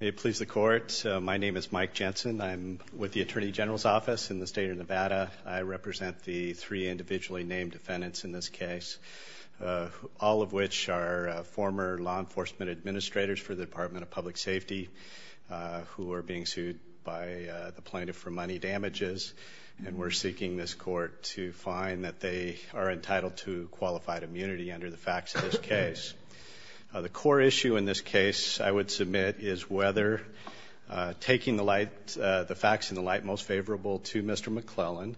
May it please the Court, my name is Mike Jensen. I'm with the Attorney General's Office in the state of Nevada. I represent the three individually named defendants in this case, all of which are former law enforcement administrators for the Department of Public Safety who are being sued by the plaintiff for money damages, and we're seeking this Court to find that they are entitled to qualified immunity under the facts of this case. The core issue in this case, I would submit, is whether taking the facts in the light most favorable to Mr. McLellan,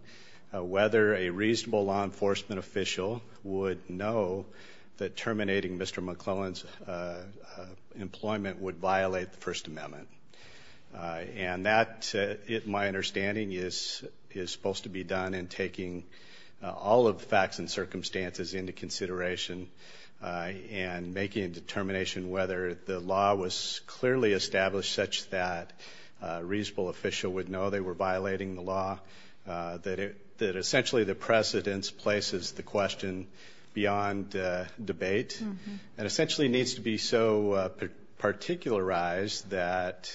whether a reasonable law enforcement official would know that terminating Mr. McLellan's employment would violate the First Amendment. And that, my understanding, is supposed to be done in taking all of the facts and circumstances into consideration and making a determination whether the law was clearly established such that a reasonable official would know they were violating the law, that essentially the precedence places the question beyond debate, and essentially needs to be so particularized that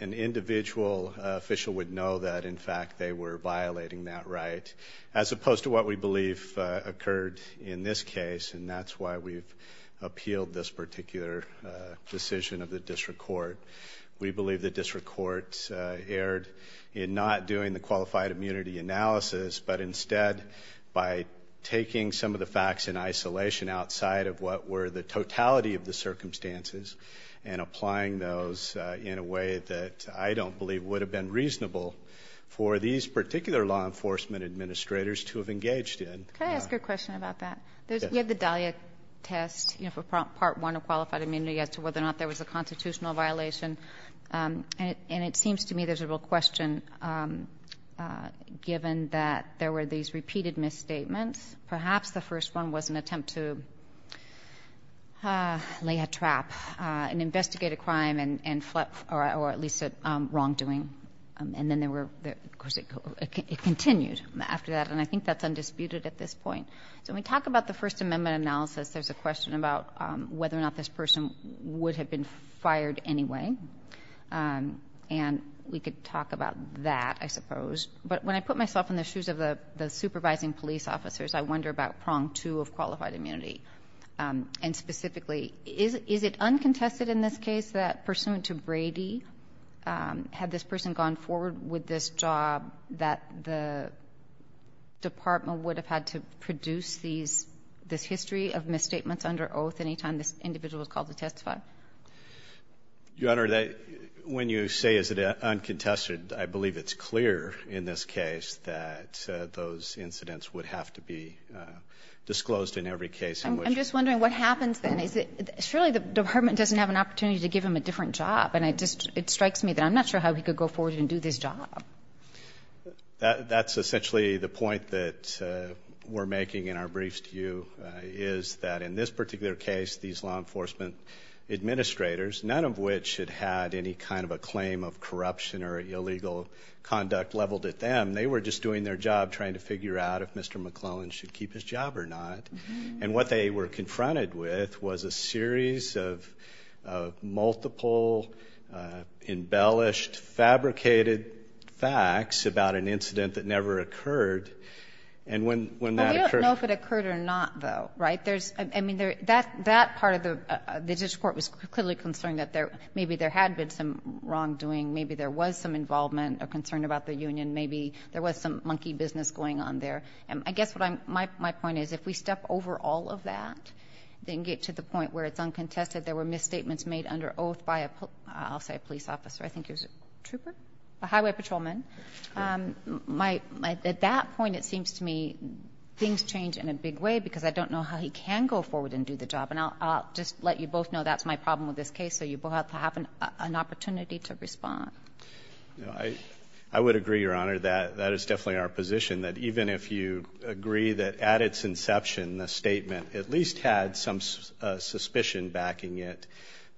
an individual official would know that, in fact, they were violating that right, as opposed to what we believe occurred in this case, and that's why we've appealed this particular decision of the district court. We believe the district court erred in not doing the qualified immunity analysis, but instead by taking some of the facts in isolation outside of what were the totality of the circumstances and applying those in a way that I don't believe would have been reasonable for these particular law enforcement administrators to have engaged in. Can I ask a question about that? Yes. We have the Dahlia test for Part I of qualified immunity as to whether or not there was a constitutional violation, and it seems to me there's a real question, given that there were these repeated misstatements. Perhaps the first one was an attempt to lay a trap and investigate a crime or at least a wrongdoing, and then of course it continued after that, and I think that's undisputed at this point. So when we talk about the First Amendment analysis, there's a question about whether or not this person would have been fired anyway, and we could talk about that, I suppose. But when I put myself in the shoes of the supervising police officers, I wonder about prong two of qualified immunity, and specifically is it uncontested in this case that pursuant to Brady had this person gone forward with this job that the department would have had to produce this history of misstatements under oath any time this individual was called to testify? Your Honor, when you say is it uncontested, I believe it's clear in this case that those incidents would have to be disclosed in every case. I'm just wondering what happens then. Surely the department doesn't have an opportunity to give him a different job, and it strikes me that I'm not sure how he could go forward and do this job. That's essentially the point that we're making in our briefs to you, is that in this particular case, these law enforcement administrators, none of which had had any kind of a claim of corruption or illegal conduct leveled at them. They were just doing their job trying to figure out if Mr. McClellan should keep his job or not. And what they were confronted with was a series of multiple embellished, fabricated facts about an incident that never occurred. I don't know if it occurred or not, though. That part of the district court was clearly concerned that maybe there had been some wrongdoing. Maybe there was some involvement or concern about the union. Maybe there was some monkey business going on there. I guess my point is if we step over all of that and get to the point where it's uncontested, there were misstatements made under oath by, I'll say, a police officer. I think it was a trooper, a highway patrolman. At that point, it seems to me things change in a big way because I don't know how he can go forward and do the job. And I'll just let you both know that's my problem with this case, so you both have to have an opportunity to respond. I would agree, Your Honor, that that is definitely our position, that even if you agree that at its inception the statement at least had some suspicion backing it,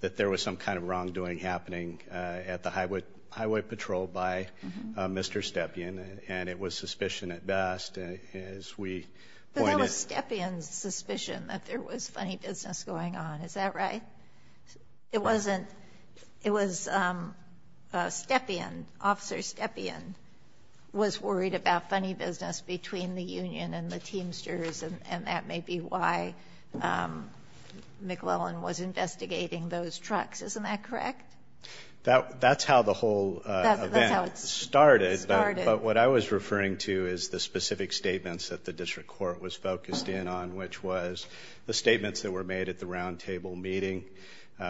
that there was some kind of wrongdoing happening at the highway patrol by Mr. Stepien, and it was suspicion at best, as we pointed out. But there was Stepien's suspicion that there was funny business going on. Is that right? It wasn't. It was Stepien, Officer Stepien, was worried about funny business between the union and the Teamsters, and that may be why McClellan was investigating those trucks. Isn't that correct? That's how the whole event started. But what I was referring to is the specific statements that the district court was focused in on, which was the statements that were made at the roundtable meeting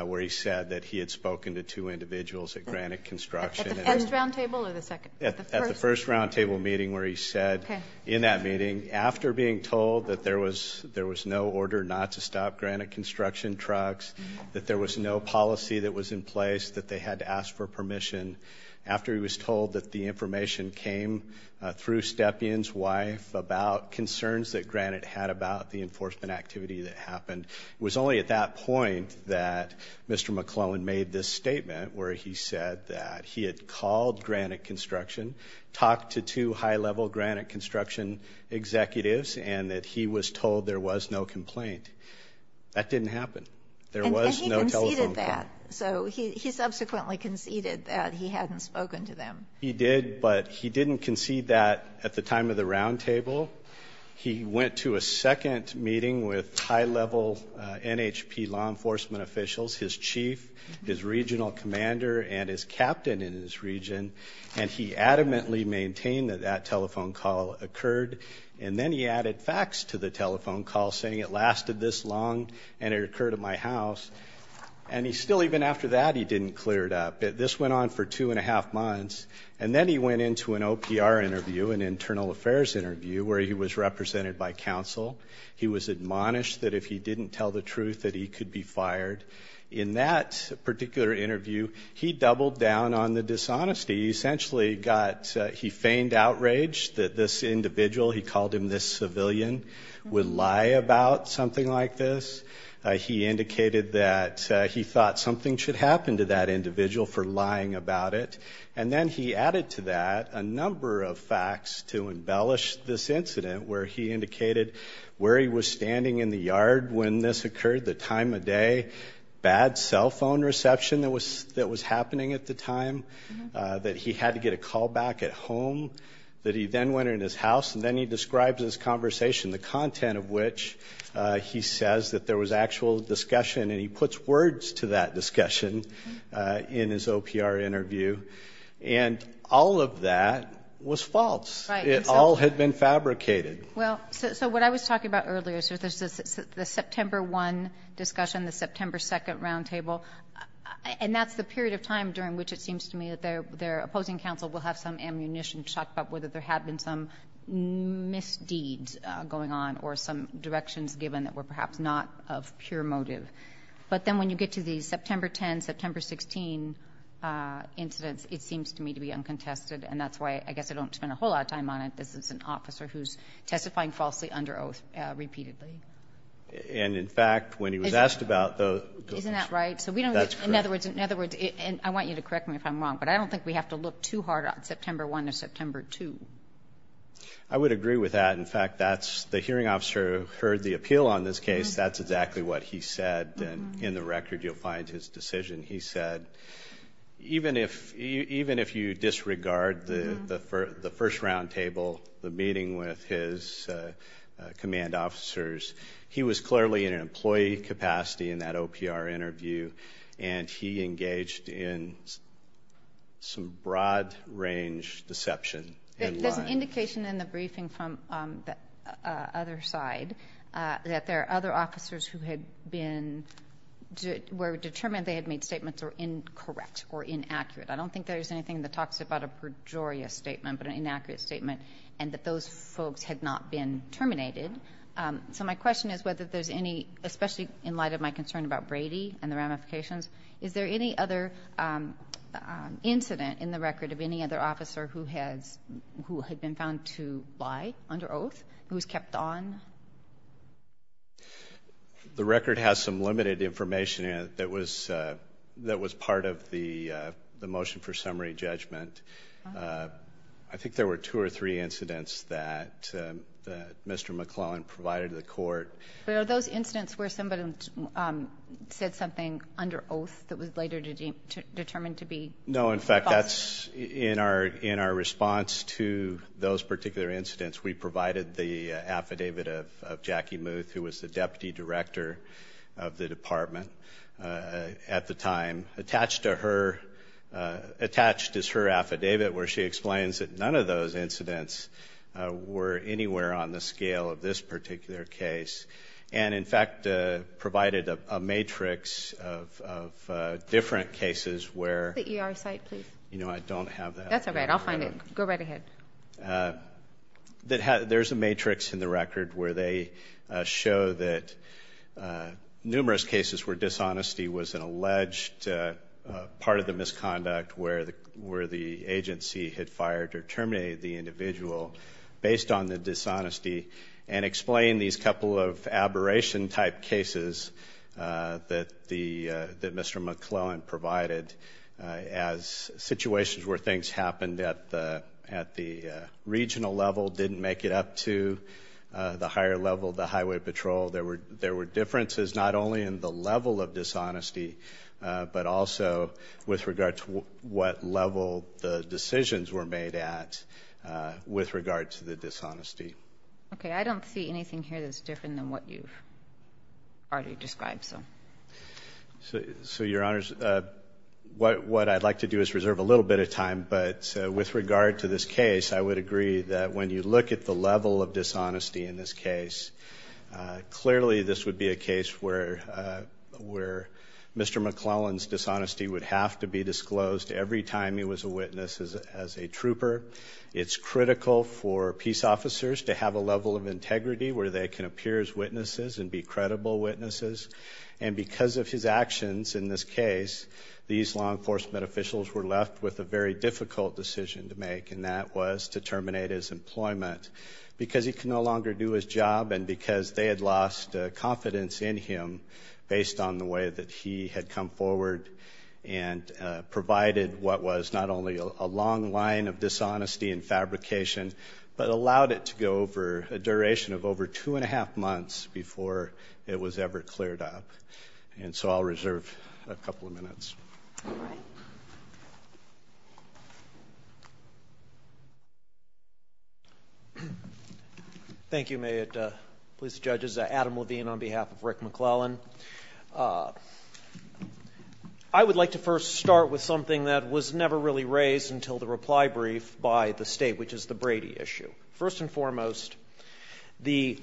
where he said that he had spoken to two individuals at Granite Construction. At the first roundtable or the second? At the first roundtable meeting where he said in that meeting, after being told that there was no order not to stop Granite Construction trucks, that there was no policy that was in place, that they had to ask for permission, after he was told that the information came through Stepien's wife about concerns that Granite had about the enforcement activity that happened, it was only at that point that Mr. McClellan made this statement where he said that he had called Granite Construction, talked to two high-level Granite Construction executives, and that he was told there was no complaint. That didn't happen. There was no telephone call. And he conceded that. So he subsequently conceded that he hadn't spoken to them. He did, but he didn't concede that at the time of the roundtable. He went to a second meeting with high-level NHP law enforcement officials, his chief, his regional commander, and his captain in his region, and he adamantly maintained that that telephone call occurred. And then he added facts to the telephone call, saying it lasted this long and it occurred at my house. And he still, even after that, he didn't clear it up. This went on for two and a half months. And then he went into an OPR interview, an internal affairs interview, where he was represented by counsel. He was admonished that if he didn't tell the truth that he could be fired. In that particular interview, he doubled down on the dishonesty. He essentially got he feigned outrage that this individual, he called him this civilian, would lie about something like this. He indicated that he thought something should happen to that individual for lying about it. And then he added to that a number of facts to embellish this incident, where he indicated where he was standing in the yard when this occurred, the time of day, bad cell phone reception that was happening at the time, that he had to get a call back at home, that he then went in his house. And then he describes this conversation, the content of which he says that there was actual discussion. And he puts words to that discussion in his OPR interview. And all of that was false. It all had been fabricated. Well, so what I was talking about earlier, the September 1 discussion, the September 2 roundtable, and that's the period of time during which it seems to me that their opposing counsel will have some ammunition to talk about whether there had been some misdeeds going on or some directions given that were perhaps not of pure motive. But then when you get to the September 10, September 16 incidents, it seems to me to be uncontested, and that's why I guess I don't spend a whole lot of time on it because it's an officer who's testifying falsely under oath repeatedly. And, in fact, when he was asked about those. Isn't that right? In other words, and I want you to correct me if I'm wrong, but I don't think we have to look too hard on September 1 or September 2. I would agree with that. In fact, the hearing officer heard the appeal on this case. That's exactly what he said, and in the record you'll find his decision. He said, even if you disregard the first roundtable, the meeting with his command officers, he was clearly in an employee capacity in that OPR interview, and he engaged in some broad-range deception. There's an indication in the briefing from the other side that there are other officers who were determined they had made statements that were incorrect or inaccurate. I don't think there's anything in the talks about a pejorious statement but an inaccurate statement and that those folks had not been terminated. So my question is whether there's any, especially in light of my concern about Brady and the ramifications, is there any other incident in the record of any other officer who had been found to lie under oath, who was kept on? The record has some limited information that was part of the motion for summary judgment. I think there were two or three incidents that Mr. McClellan provided to the court. Are those incidents where somebody said something under oath that was later determined to be false? No. In fact, in our response to those particular incidents, we provided the affidavit of Jackie Muth, who was the deputy director of the department at the time. Attached is her affidavit where she explains that none of those incidents were anywhere on the scale of this particular case, and in fact provided a matrix of different cases where I don't have that. That's all right. I'll find it. Go right ahead. There's a matrix in the record where they show that numerous cases where dishonesty was an alleged part of the misconduct where the agency had fired or terminated the individual based on the dishonesty and explain these couple of aberration type cases that Mr. McClellan provided as situations where things happened at the regional level, didn't make it up to the higher level, the highway patrol. There were differences not only in the level of dishonesty, but also with regard to what level the decisions were made at with regard to the dishonesty. Okay. I don't see anything here that's different than what you've already described. So, Your Honors, what I'd like to do is reserve a little bit of time, but with regard to this case, I would agree that when you look at the level of dishonesty in this case, clearly this would be a case where Mr. McClellan's dishonesty would have to be disclosed every time he was a witness as a trooper. It's critical for peace officers to have a level of integrity where they can appear as witnesses and be credible witnesses. And because of his actions in this case, these law enforcement officials were left with a very difficult decision to make, and that was to terminate his employment because he could no longer do his job and because they had lost confidence in him based on the way that he had come forward and provided what was not only a long line of dishonesty and fabrication, but allowed it to go over a duration of over two and a half months before it was ever cleared up. And so I'll reserve a couple of minutes. All right. Thank you, Mayotte Police Judges. Adam Levine on behalf of Rick McClellan. I would like to first start with something that was never really raised until the reply brief by the State, which is the Brady issue. First and foremost, the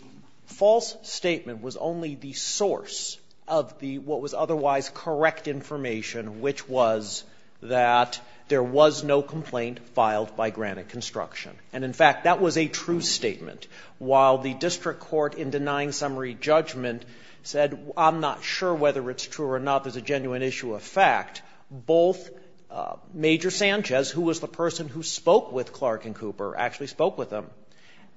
false statement was only the source of the what was otherwise correct information, which was that there was no complaint filed by Granite Construction. And, in fact, that was a true statement. While the district court in denying summary judgment said, I'm not sure whether it's true or not, there's a genuine issue of fact, both Major Sanchez, who was the person who spoke with Clark and Cooper, actually spoke with them,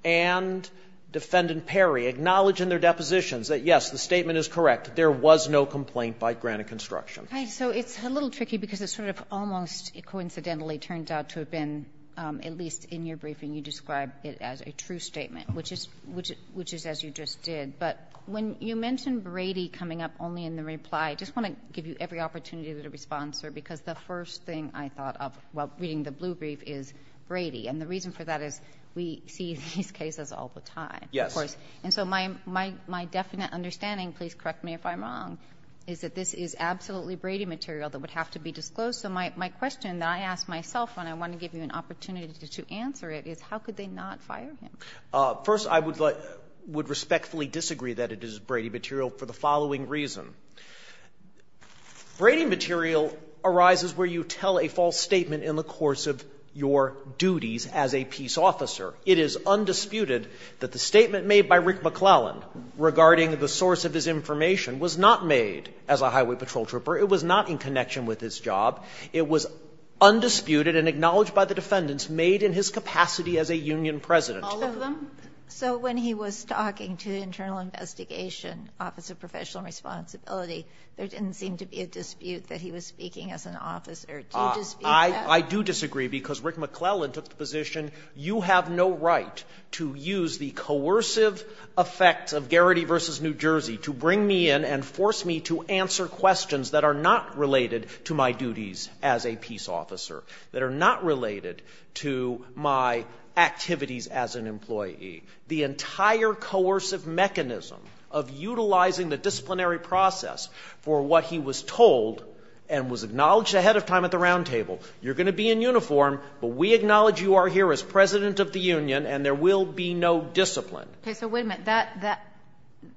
and Defendant Perry acknowledge in their depositions that, yes, the statement is correct. There was no complaint by Granite Construction. So it's a little tricky because it's sort of almost coincidentally turned out to have been, at least in your briefing, you described it as a true statement, which is as you just did. But when you mentioned Brady coming up only in the reply, I just want to give you every opportunity to respond, sir, because the first thing I thought of while reading the blue brief is Brady. And the reason for that is we see these cases all the time, of course. And so my definite understanding, please correct me if I'm wrong, is that this is absolutely Brady material that would have to be disclosed. So my question that I ask myself when I want to give you an opportunity to answer it is how could they not fire him? First, I would respectfully disagree that it is Brady material for the following reason. Brady material arises where you tell a false statement in the course of your duties as a peace officer. It is undisputed that the statement made by Rick McClellan regarding the source of his information was not made as a highway patrol trooper. It was not in connection with his job. It was undisputed and acknowledged by the defendants made in his capacity as a union president. All of them? So when he was talking to the Internal Investigation Office of Professional Responsibility, there didn't seem to be a dispute that he was speaking as an officer. Do you disagree with that? I do disagree, because Rick McClellan took the position, you have no right to use the coercive effect of Garrity v. New Jersey to bring me in and force me to answer questions that are not related to my duties as a peace officer, that are not related to my activities as an employee. The entire coercive mechanism of utilizing the disciplinary process for what he was told and was acknowledged ahead of time at the roundtable, you're going to be in uniform, but we acknowledge you are here as president of the union and there will be no discipline. Okay. So wait a minute. That that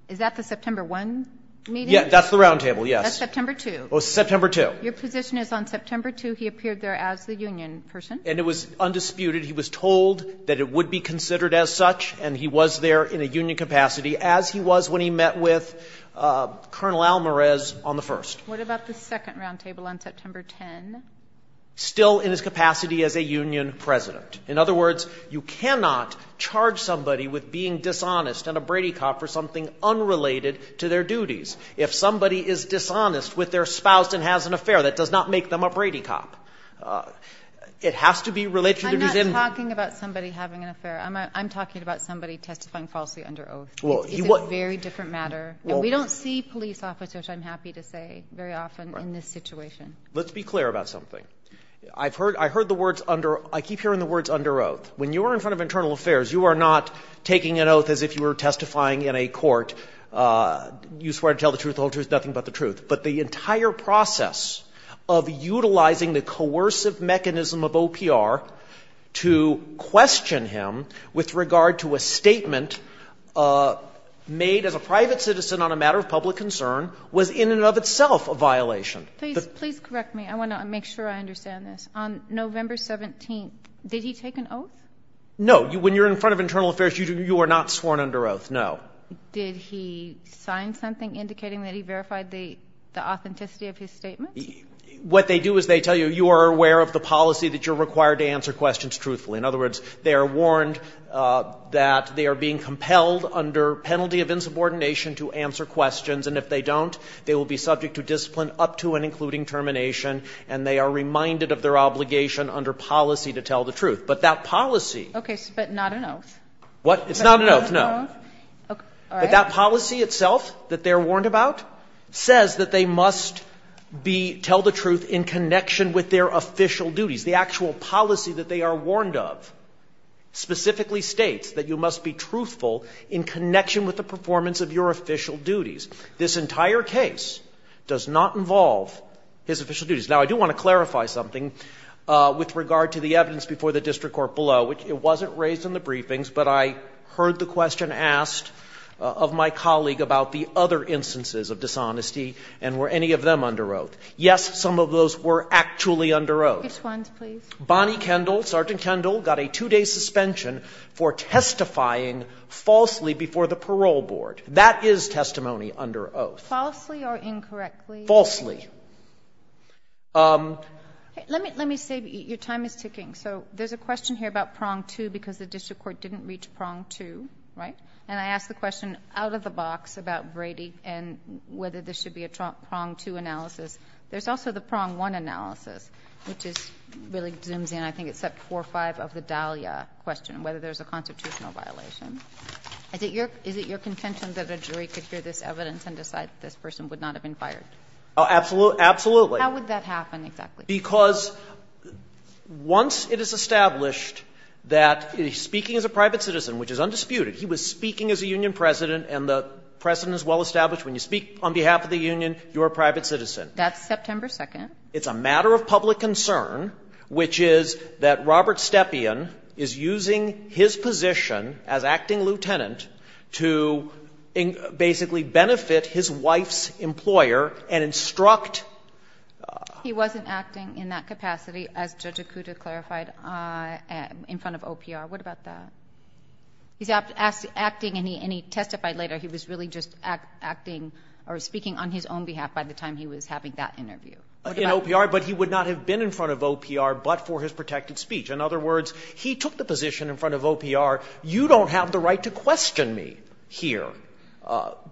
is that the September 1 meeting? Yes. That's the roundtable, yes. That's September 2. September 2. Your position is on September 2, he appeared there as the union person. And it was undisputed. He was told that it would be considered as such, and he was there in a union capacity as he was when he met with Colonel Almaraz on the first. What about the second roundtable on September 10? Still in his capacity as a union president. In other words, you cannot charge somebody with being dishonest and a Brady cop for something unrelated to their duties. If somebody is dishonest with their spouse and has an affair, that does not make them a Brady cop. It has to be related to the reason. I'm not talking about somebody having an affair. I'm talking about somebody testifying falsely under oath. Well, you want very different matter. We don't see police officers. I'm happy to say very often in this situation. Let's be clear about something. I've heard I heard the words under I keep hearing the words under oath when you are in front of internal affairs. You are not taking an oath as if you were testifying in a court. You swear to tell the truth. The whole truth. Nothing but the truth. But the entire process of utilizing the coercive mechanism of OPR to question him with regard to a statement made as a private citizen on a matter of public concern was in and of itself a violation. Please, please correct me. I want to make sure I understand this. On November 17th, did he take an oath? No. When you're in front of internal affairs, you are not sworn under oath. No. Did he sign something indicating that he verified the authenticity of his statement? What they do is they tell you, you are aware of the policy that you're required to answer questions truthfully. In other words, they are warned that they are being compelled under penalty of insubordination to answer questions. And if they don't, they will be subject to discipline up to and including termination. And they are reminded of their obligation under policy to tell the truth. But that policy. Okay. But not an oath. What? It's not an oath. No. But that policy itself that they're warned about says that they must be, tell the truth in connection with their official duties. The actual policy that they are warned of specifically states that you must be truthful in connection with the performance of your official duties. This entire case does not involve his official duties. Now, I do want to clarify something with regard to the evidence before the district court below, which it wasn't raised in the briefings, but I heard the question asked of my colleague about the other instances of dishonesty and were any of them under oath. Yes, some of those were actually under oath. Which ones, please? Bonnie Kendall, Sergeant Kendall, got a two-day suspension for testifying falsely before the parole board. That is testimony under oath. Falsely or incorrectly? Falsely. Let me say, your time is ticking. So there's a question here about prong two because the district court didn't reach prong two, right? And I asked the question out of the box about Brady and whether this should be a prong two analysis. There's also the prong one analysis, which is really zooms in, I think it's at 4-5 of the Dahlia question, whether there's a constitutional violation. Is it your contention that a jury could hear this evidence and decide that this person would not have been fired? Absolutely. How would that happen exactly? Because once it is established that he's speaking as a private citizen, which is undisputed, he was speaking as a union president, and the precedent is well established. When you speak on behalf of the union, you're a private citizen. That's September 2nd. It's a matter of public concern, which is that Robert Stepien is using his position as acting lieutenant to basically benefit his wife's employer and instruct her. Well, he wasn't acting in that capacity, as Judge Akuta clarified, in front of OPR. What about that? He's acting, and he testified later he was really just acting or speaking on his own behalf by the time he was having that interview. In OPR, but he would not have been in front of OPR but for his protected speech. In other words, he took the position in front of OPR, you don't have the right to question me here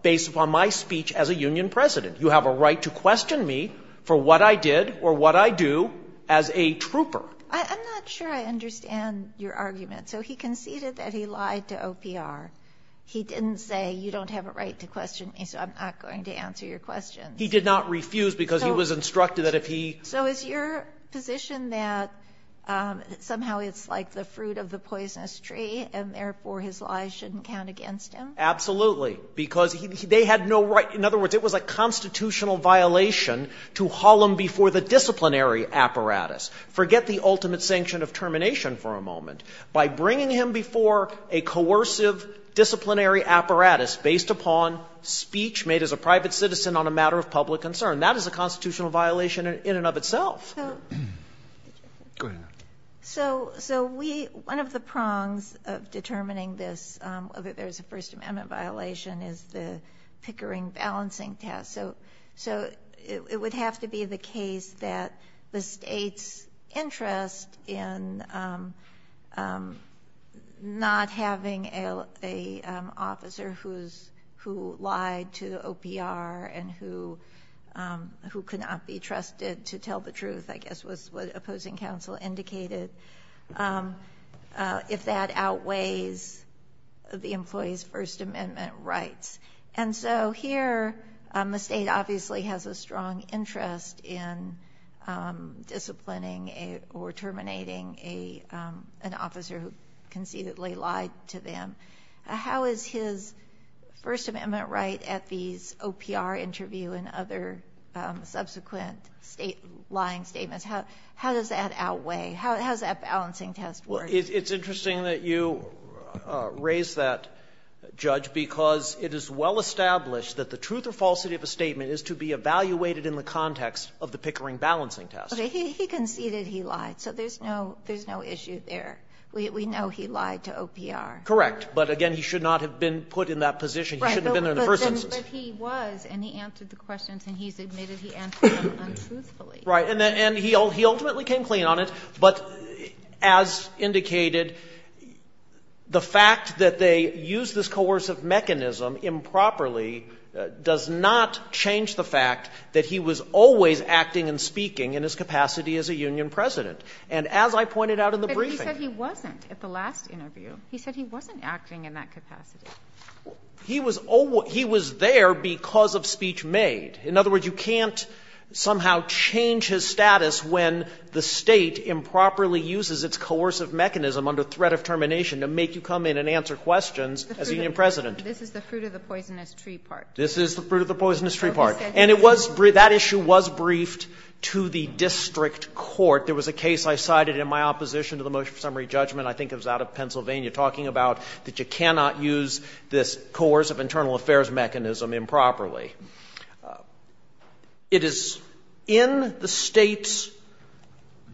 based upon my speech as a union president. You have a right to question me for what I did or what I do as a trooper. I'm not sure I understand your argument. So he conceded that he lied to OPR. He didn't say you don't have a right to question me, so I'm not going to answer your questions. He did not refuse because he was instructed that if he So is your position that somehow it's like the fruit of the poisonous tree, and therefore his lies shouldn't count against him? Absolutely. Because they had no right. In other words, it was a constitutional violation to haul him before the disciplinary apparatus. Forget the ultimate sanction of termination for a moment. By bringing him before a coercive disciplinary apparatus based upon speech made as a private citizen on a matter of public concern, that is a constitutional violation in and of itself. Go ahead. So we one of the prongs of determining this, whether there's a First Amendment violation, is the Pickering balancing test. So it would have to be the case that the state's interest in not having a officer who lied to OPR and who could not be trusted to tell the truth, I guess was what opposing counsel indicated. If that outweighs the employee's First Amendment rights. And so here, the state obviously has a strong interest in disciplining or terminating an officer who conceitedly lied to them. How is his First Amendment right at these OPR interview and other subsequent state lying statements? How does that outweigh? How does that balancing test work? It's interesting that you raise that, Judge, because it is well established that the truth or falsity of a statement is to be evaluated in the context of the Pickering balancing test. He conceded he lied, so there's no issue there. We know he lied to OPR. Correct. But again, he should not have been put in that position. He shouldn't have been there in the first instance. But he was, and he answered the questions, and he's admitted he answered them untruthfully. Right. And he ultimately came clean on it. But as indicated, the fact that they used this coercive mechanism improperly does not change the fact that he was always acting and speaking in his capacity as a union president. And as I pointed out in the briefing. But he said he wasn't at the last interview. He said he wasn't acting in that capacity. He was there because of speech made. In other words, you can't somehow change his status when the state improperly uses its coercive mechanism under threat of termination to make you come in and answer questions as union president. This is the fruit of the poisonous tree part. This is the fruit of the poisonous tree part. And it was, that issue was briefed to the district court. There was a case I cited in my opposition to the motion for summary judgment. I think it was out of Pennsylvania, talking about that you cannot use this coercive internal affairs mechanism improperly. It is in the state's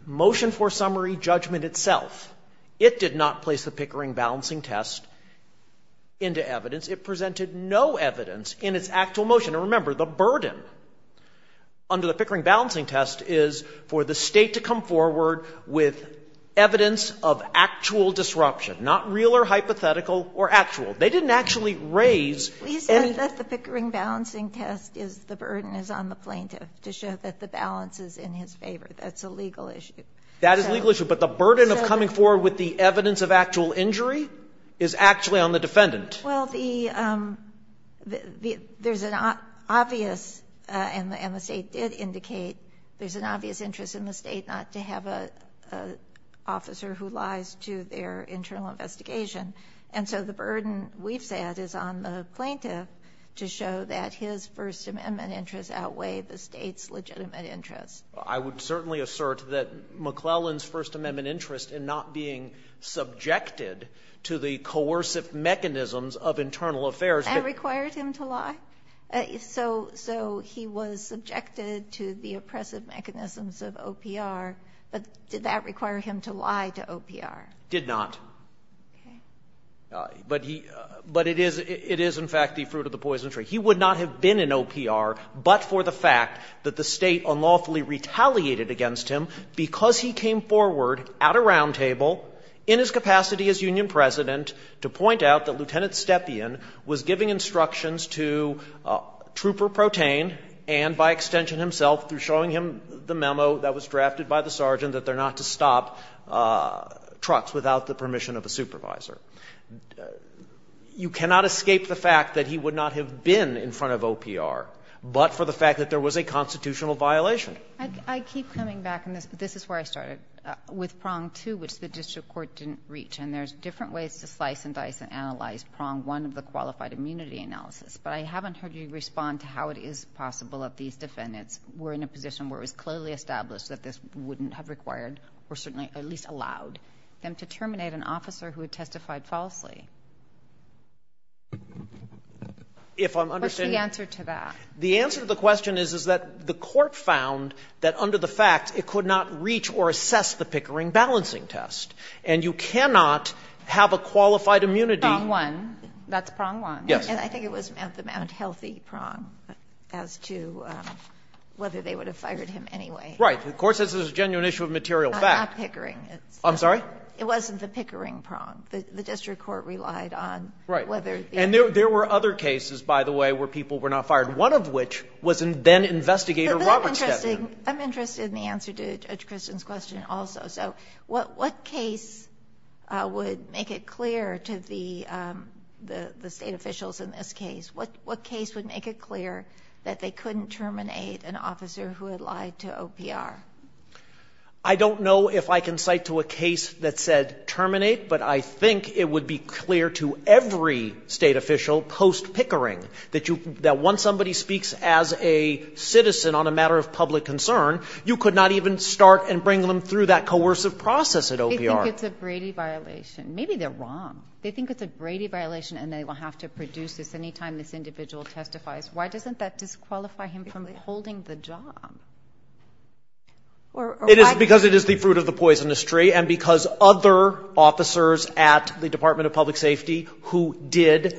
motion for summary judgment itself. It did not place the Pickering balancing test into evidence. It presented no evidence in its actual motion. And remember, the burden under the Pickering balancing test is for the state to come forward with evidence of actual disruption, not real or hypothetical or actual. They didn't actually raise. We said that the Pickering balancing test is the burden is on the plaintiff to show that the balance is in his favor. That's a legal issue. That is a legal issue, but the burden of coming forward with the evidence of actual injury is actually on the defendant. Well, there's an obvious, and the state did indicate, there's an obvious interest in the state not to have an officer who lies to their internal investigation. And so the burden we've said is on the plaintiff to show that his First Amendment interests outweigh the state's legitimate interests. I would certainly assert that McClellan's First Amendment interest in not being subjected to the coercive mechanisms of internal affairs. And required him to lie? So he was subjected to the oppressive mechanisms of OPR, but did that require him to lie to OPR? Did not. But he, but it is, it is in fact the fruit of the poison tree. He would not have been in OPR, but for the fact that the state unlawfully retaliated against him because he came forward at a roundtable in his capacity as union president to point out that Lieutenant Stepien was giving instructions to Trooper Protein and by extension himself through showing him the memo that was a supervisor. You cannot escape the fact that he would not have been in front of OPR, but for the fact that there was a constitutional violation. I keep coming back, and this is where I started, with prong two, which the district court didn't reach. And there's different ways to slice and dice and analyze prong one of the qualified immunity analysis, but I haven't heard you respond to how it is possible that these defendants were in a position where it was clearly established that this wouldn't have required, or certainly at least allowed, them to terminate an officer who had testified falsely. What's the answer to that? The answer to the question is, is that the court found that under the fact it could not reach or assess the Pickering balancing test, and you cannot have a qualified immunity. Prong one, that's prong one. Yes. And I think it was at the Mount Healthy prong as to whether they would have fired him anyway. Right. The court says it's a genuine issue of material fact. Not Pickering. I'm sorry? It wasn't the Pickering prong. The district court relied on whether the other. Right. And there were other cases, by the way, where people were not fired, one of which was then-investigator Robert's testimony. But I'm interested in the answer to Judge Kristin's question also. So what case would make it clear to the State officials in this case, what case would make it clear that they couldn't terminate an officer who had lied to OPR? I don't know if I can cite to a case that said terminate, but I think it would be clear to every State official post-Pickering that once somebody speaks as a citizen on a matter of public concern, you could not even start and bring them through that coercive process at OPR. They think it's a Brady violation. Maybe they're wrong. They think it's a Brady violation, and they will have to produce this any time this individual testifies. Why doesn't that disqualify him from holding the job? It is because it is the fruit of the poisonous tree, and because other officers at the Department of Public Safety who did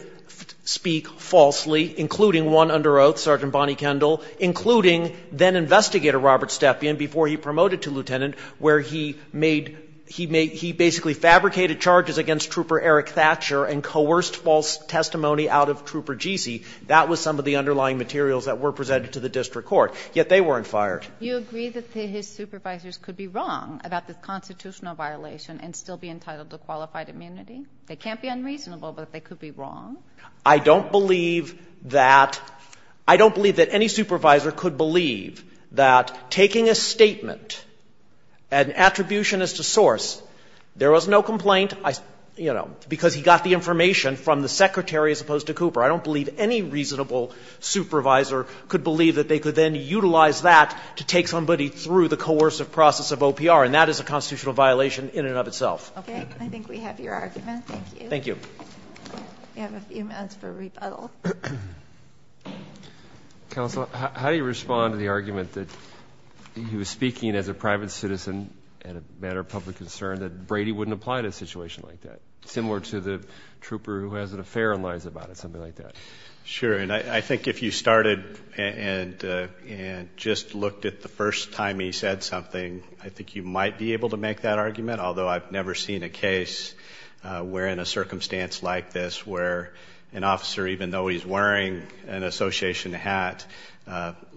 speak falsely, including one under oath, Sergeant Bonnie Kendall, including then-investigator Robert Stepien, before he promoted to lieutenant, where he made, he basically fabricated charges against Trooper Eric Thatcher and coerced false testimony out of Trooper Gesee. That was some of the underlying materials that were presented to the district court, yet they weren't fired. You agree that his supervisors could be wrong about this constitutional violation and still be entitled to qualified immunity? They can't be unreasonable, but they could be wrong. I don't believe that any supervisor could believe that taking a statement, an attribution as to source, there was no complaint, you know, because he got the information from the secretary as opposed to Cooper. I don't believe any reasonable supervisor could believe that they could then utilize that to take somebody through the coercive process of OPR, and that is a constitutional violation in and of itself. Okay. I think we have your argument. Thank you. Thank you. We have a few minutes for rebuttal. Counsel, how do you respond to the argument that he was speaking as a private citizen and a matter of public concern, that Brady wouldn't apply to a situation like that, similar to the trooper who has an affair and lies about it, something like that? Sure, and I think if you started and just looked at the first time he said something, I think you might be able to make that argument, although I've never seen a case where, in a circumstance like this, where an officer, even though he's wearing an association hat,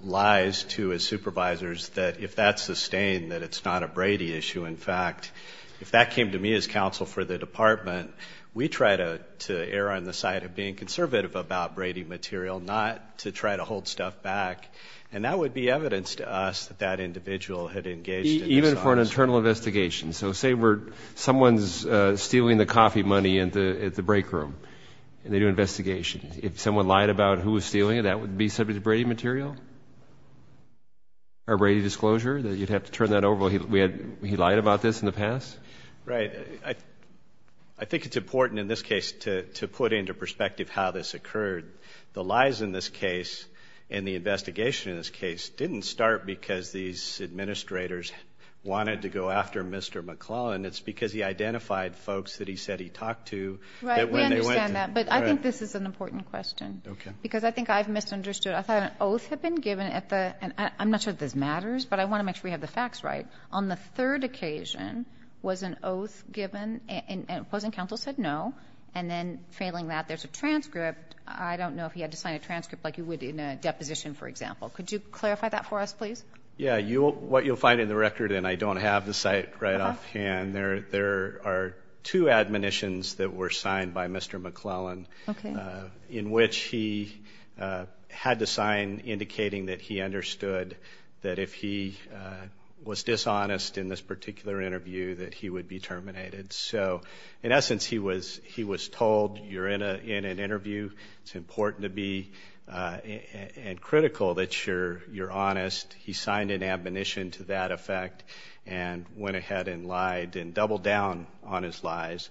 lies to his supervisors that if that's sustained, that it's not a Brady issue. In fact, if that came to me as counsel for the department, we try to err on the side of being conservative about Brady material, not to try to hold stuff back, and that would be evidence to us that that individual had engaged in this. Even for an internal investigation. So say someone's stealing the coffee money at the break room, and they do an investigation. If someone lied about who was stealing it, that would be subject to Brady material, or is that over? He lied about this in the past? Right. I think it's important in this case to put into perspective how this occurred. The lies in this case and the investigation in this case didn't start because these administrators wanted to go after Mr. McClellan. It's because he identified folks that he said he talked to. Right. We understand that, but I think this is an important question, because I think I've misunderstood. I thought an oath had been given at the... I'm not sure if this matters, but I On the third occasion, was an oath given, and opposing counsel said no, and then failing that, there's a transcript. I don't know if he had to sign a transcript like you would in a deposition, for example. Could you clarify that for us, please? Yeah, what you'll find in the record, and I don't have the site right off hand, there are two admonitions that were signed by Mr. McClellan in which he had to sign indicating that he understood that if he was dishonest in this particular interview, that he would be terminated. So, in essence, he was told, you're in an interview, it's important to be, and critical that you're honest. He signed an admonition to that effect, and went ahead and lied, and doubled down on his lies.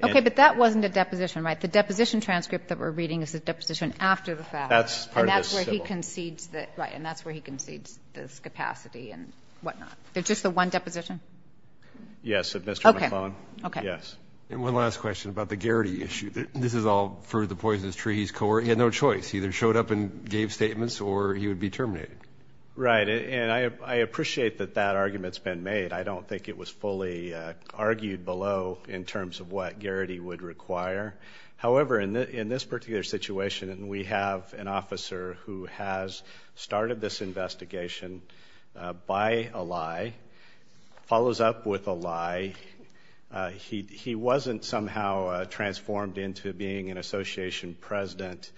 Okay, but that wasn't a deposition, right? The deposition transcript that we're reading is the deposition after the fact. And that's where he concedes this capacity, and whatnot. It's just the one deposition? Yes, of Mr. McClellan. And one last question about the Garrity issue. This is all for the Poisonous Trees Corp. He had no choice. He either showed up and gave statements, or he would be terminated. Right, and I appreciate that that argument's been made. I don't think it was fully argued below in terms of what Garrity would require. However, in this particular situation, and we have an officer who has started this investigation by a lie, follows up with a lie. He wasn't somehow transformed into being an association president,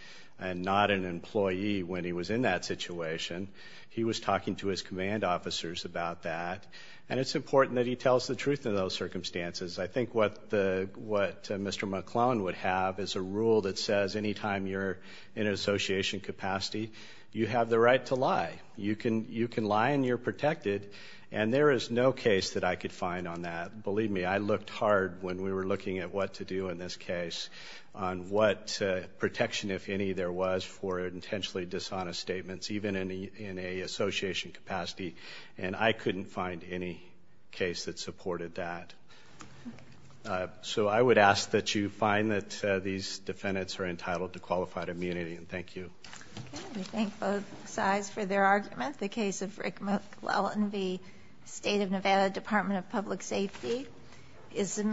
and not an employee when he was in that situation. He was talking to his command officers about that. And it's important that he tells the truth in those circumstances. I think what Mr. McClellan would have is a rule that says anytime you're in an association capacity, you have the right to lie. You can lie and you're protected, and there is no case that I could find on that. Believe me, I looked hard when we were looking at what to do in this case, on what protection, if any, there was for intentionally dishonest statements, even in an association capacity, and I couldn't find any case that supported that. So I would ask that you find that these defendants are entitled to qualified immunity, and thank you. We thank both sides for their argument. The case of Rick McClellan v. State of Nevada Department of Public Safety is amended.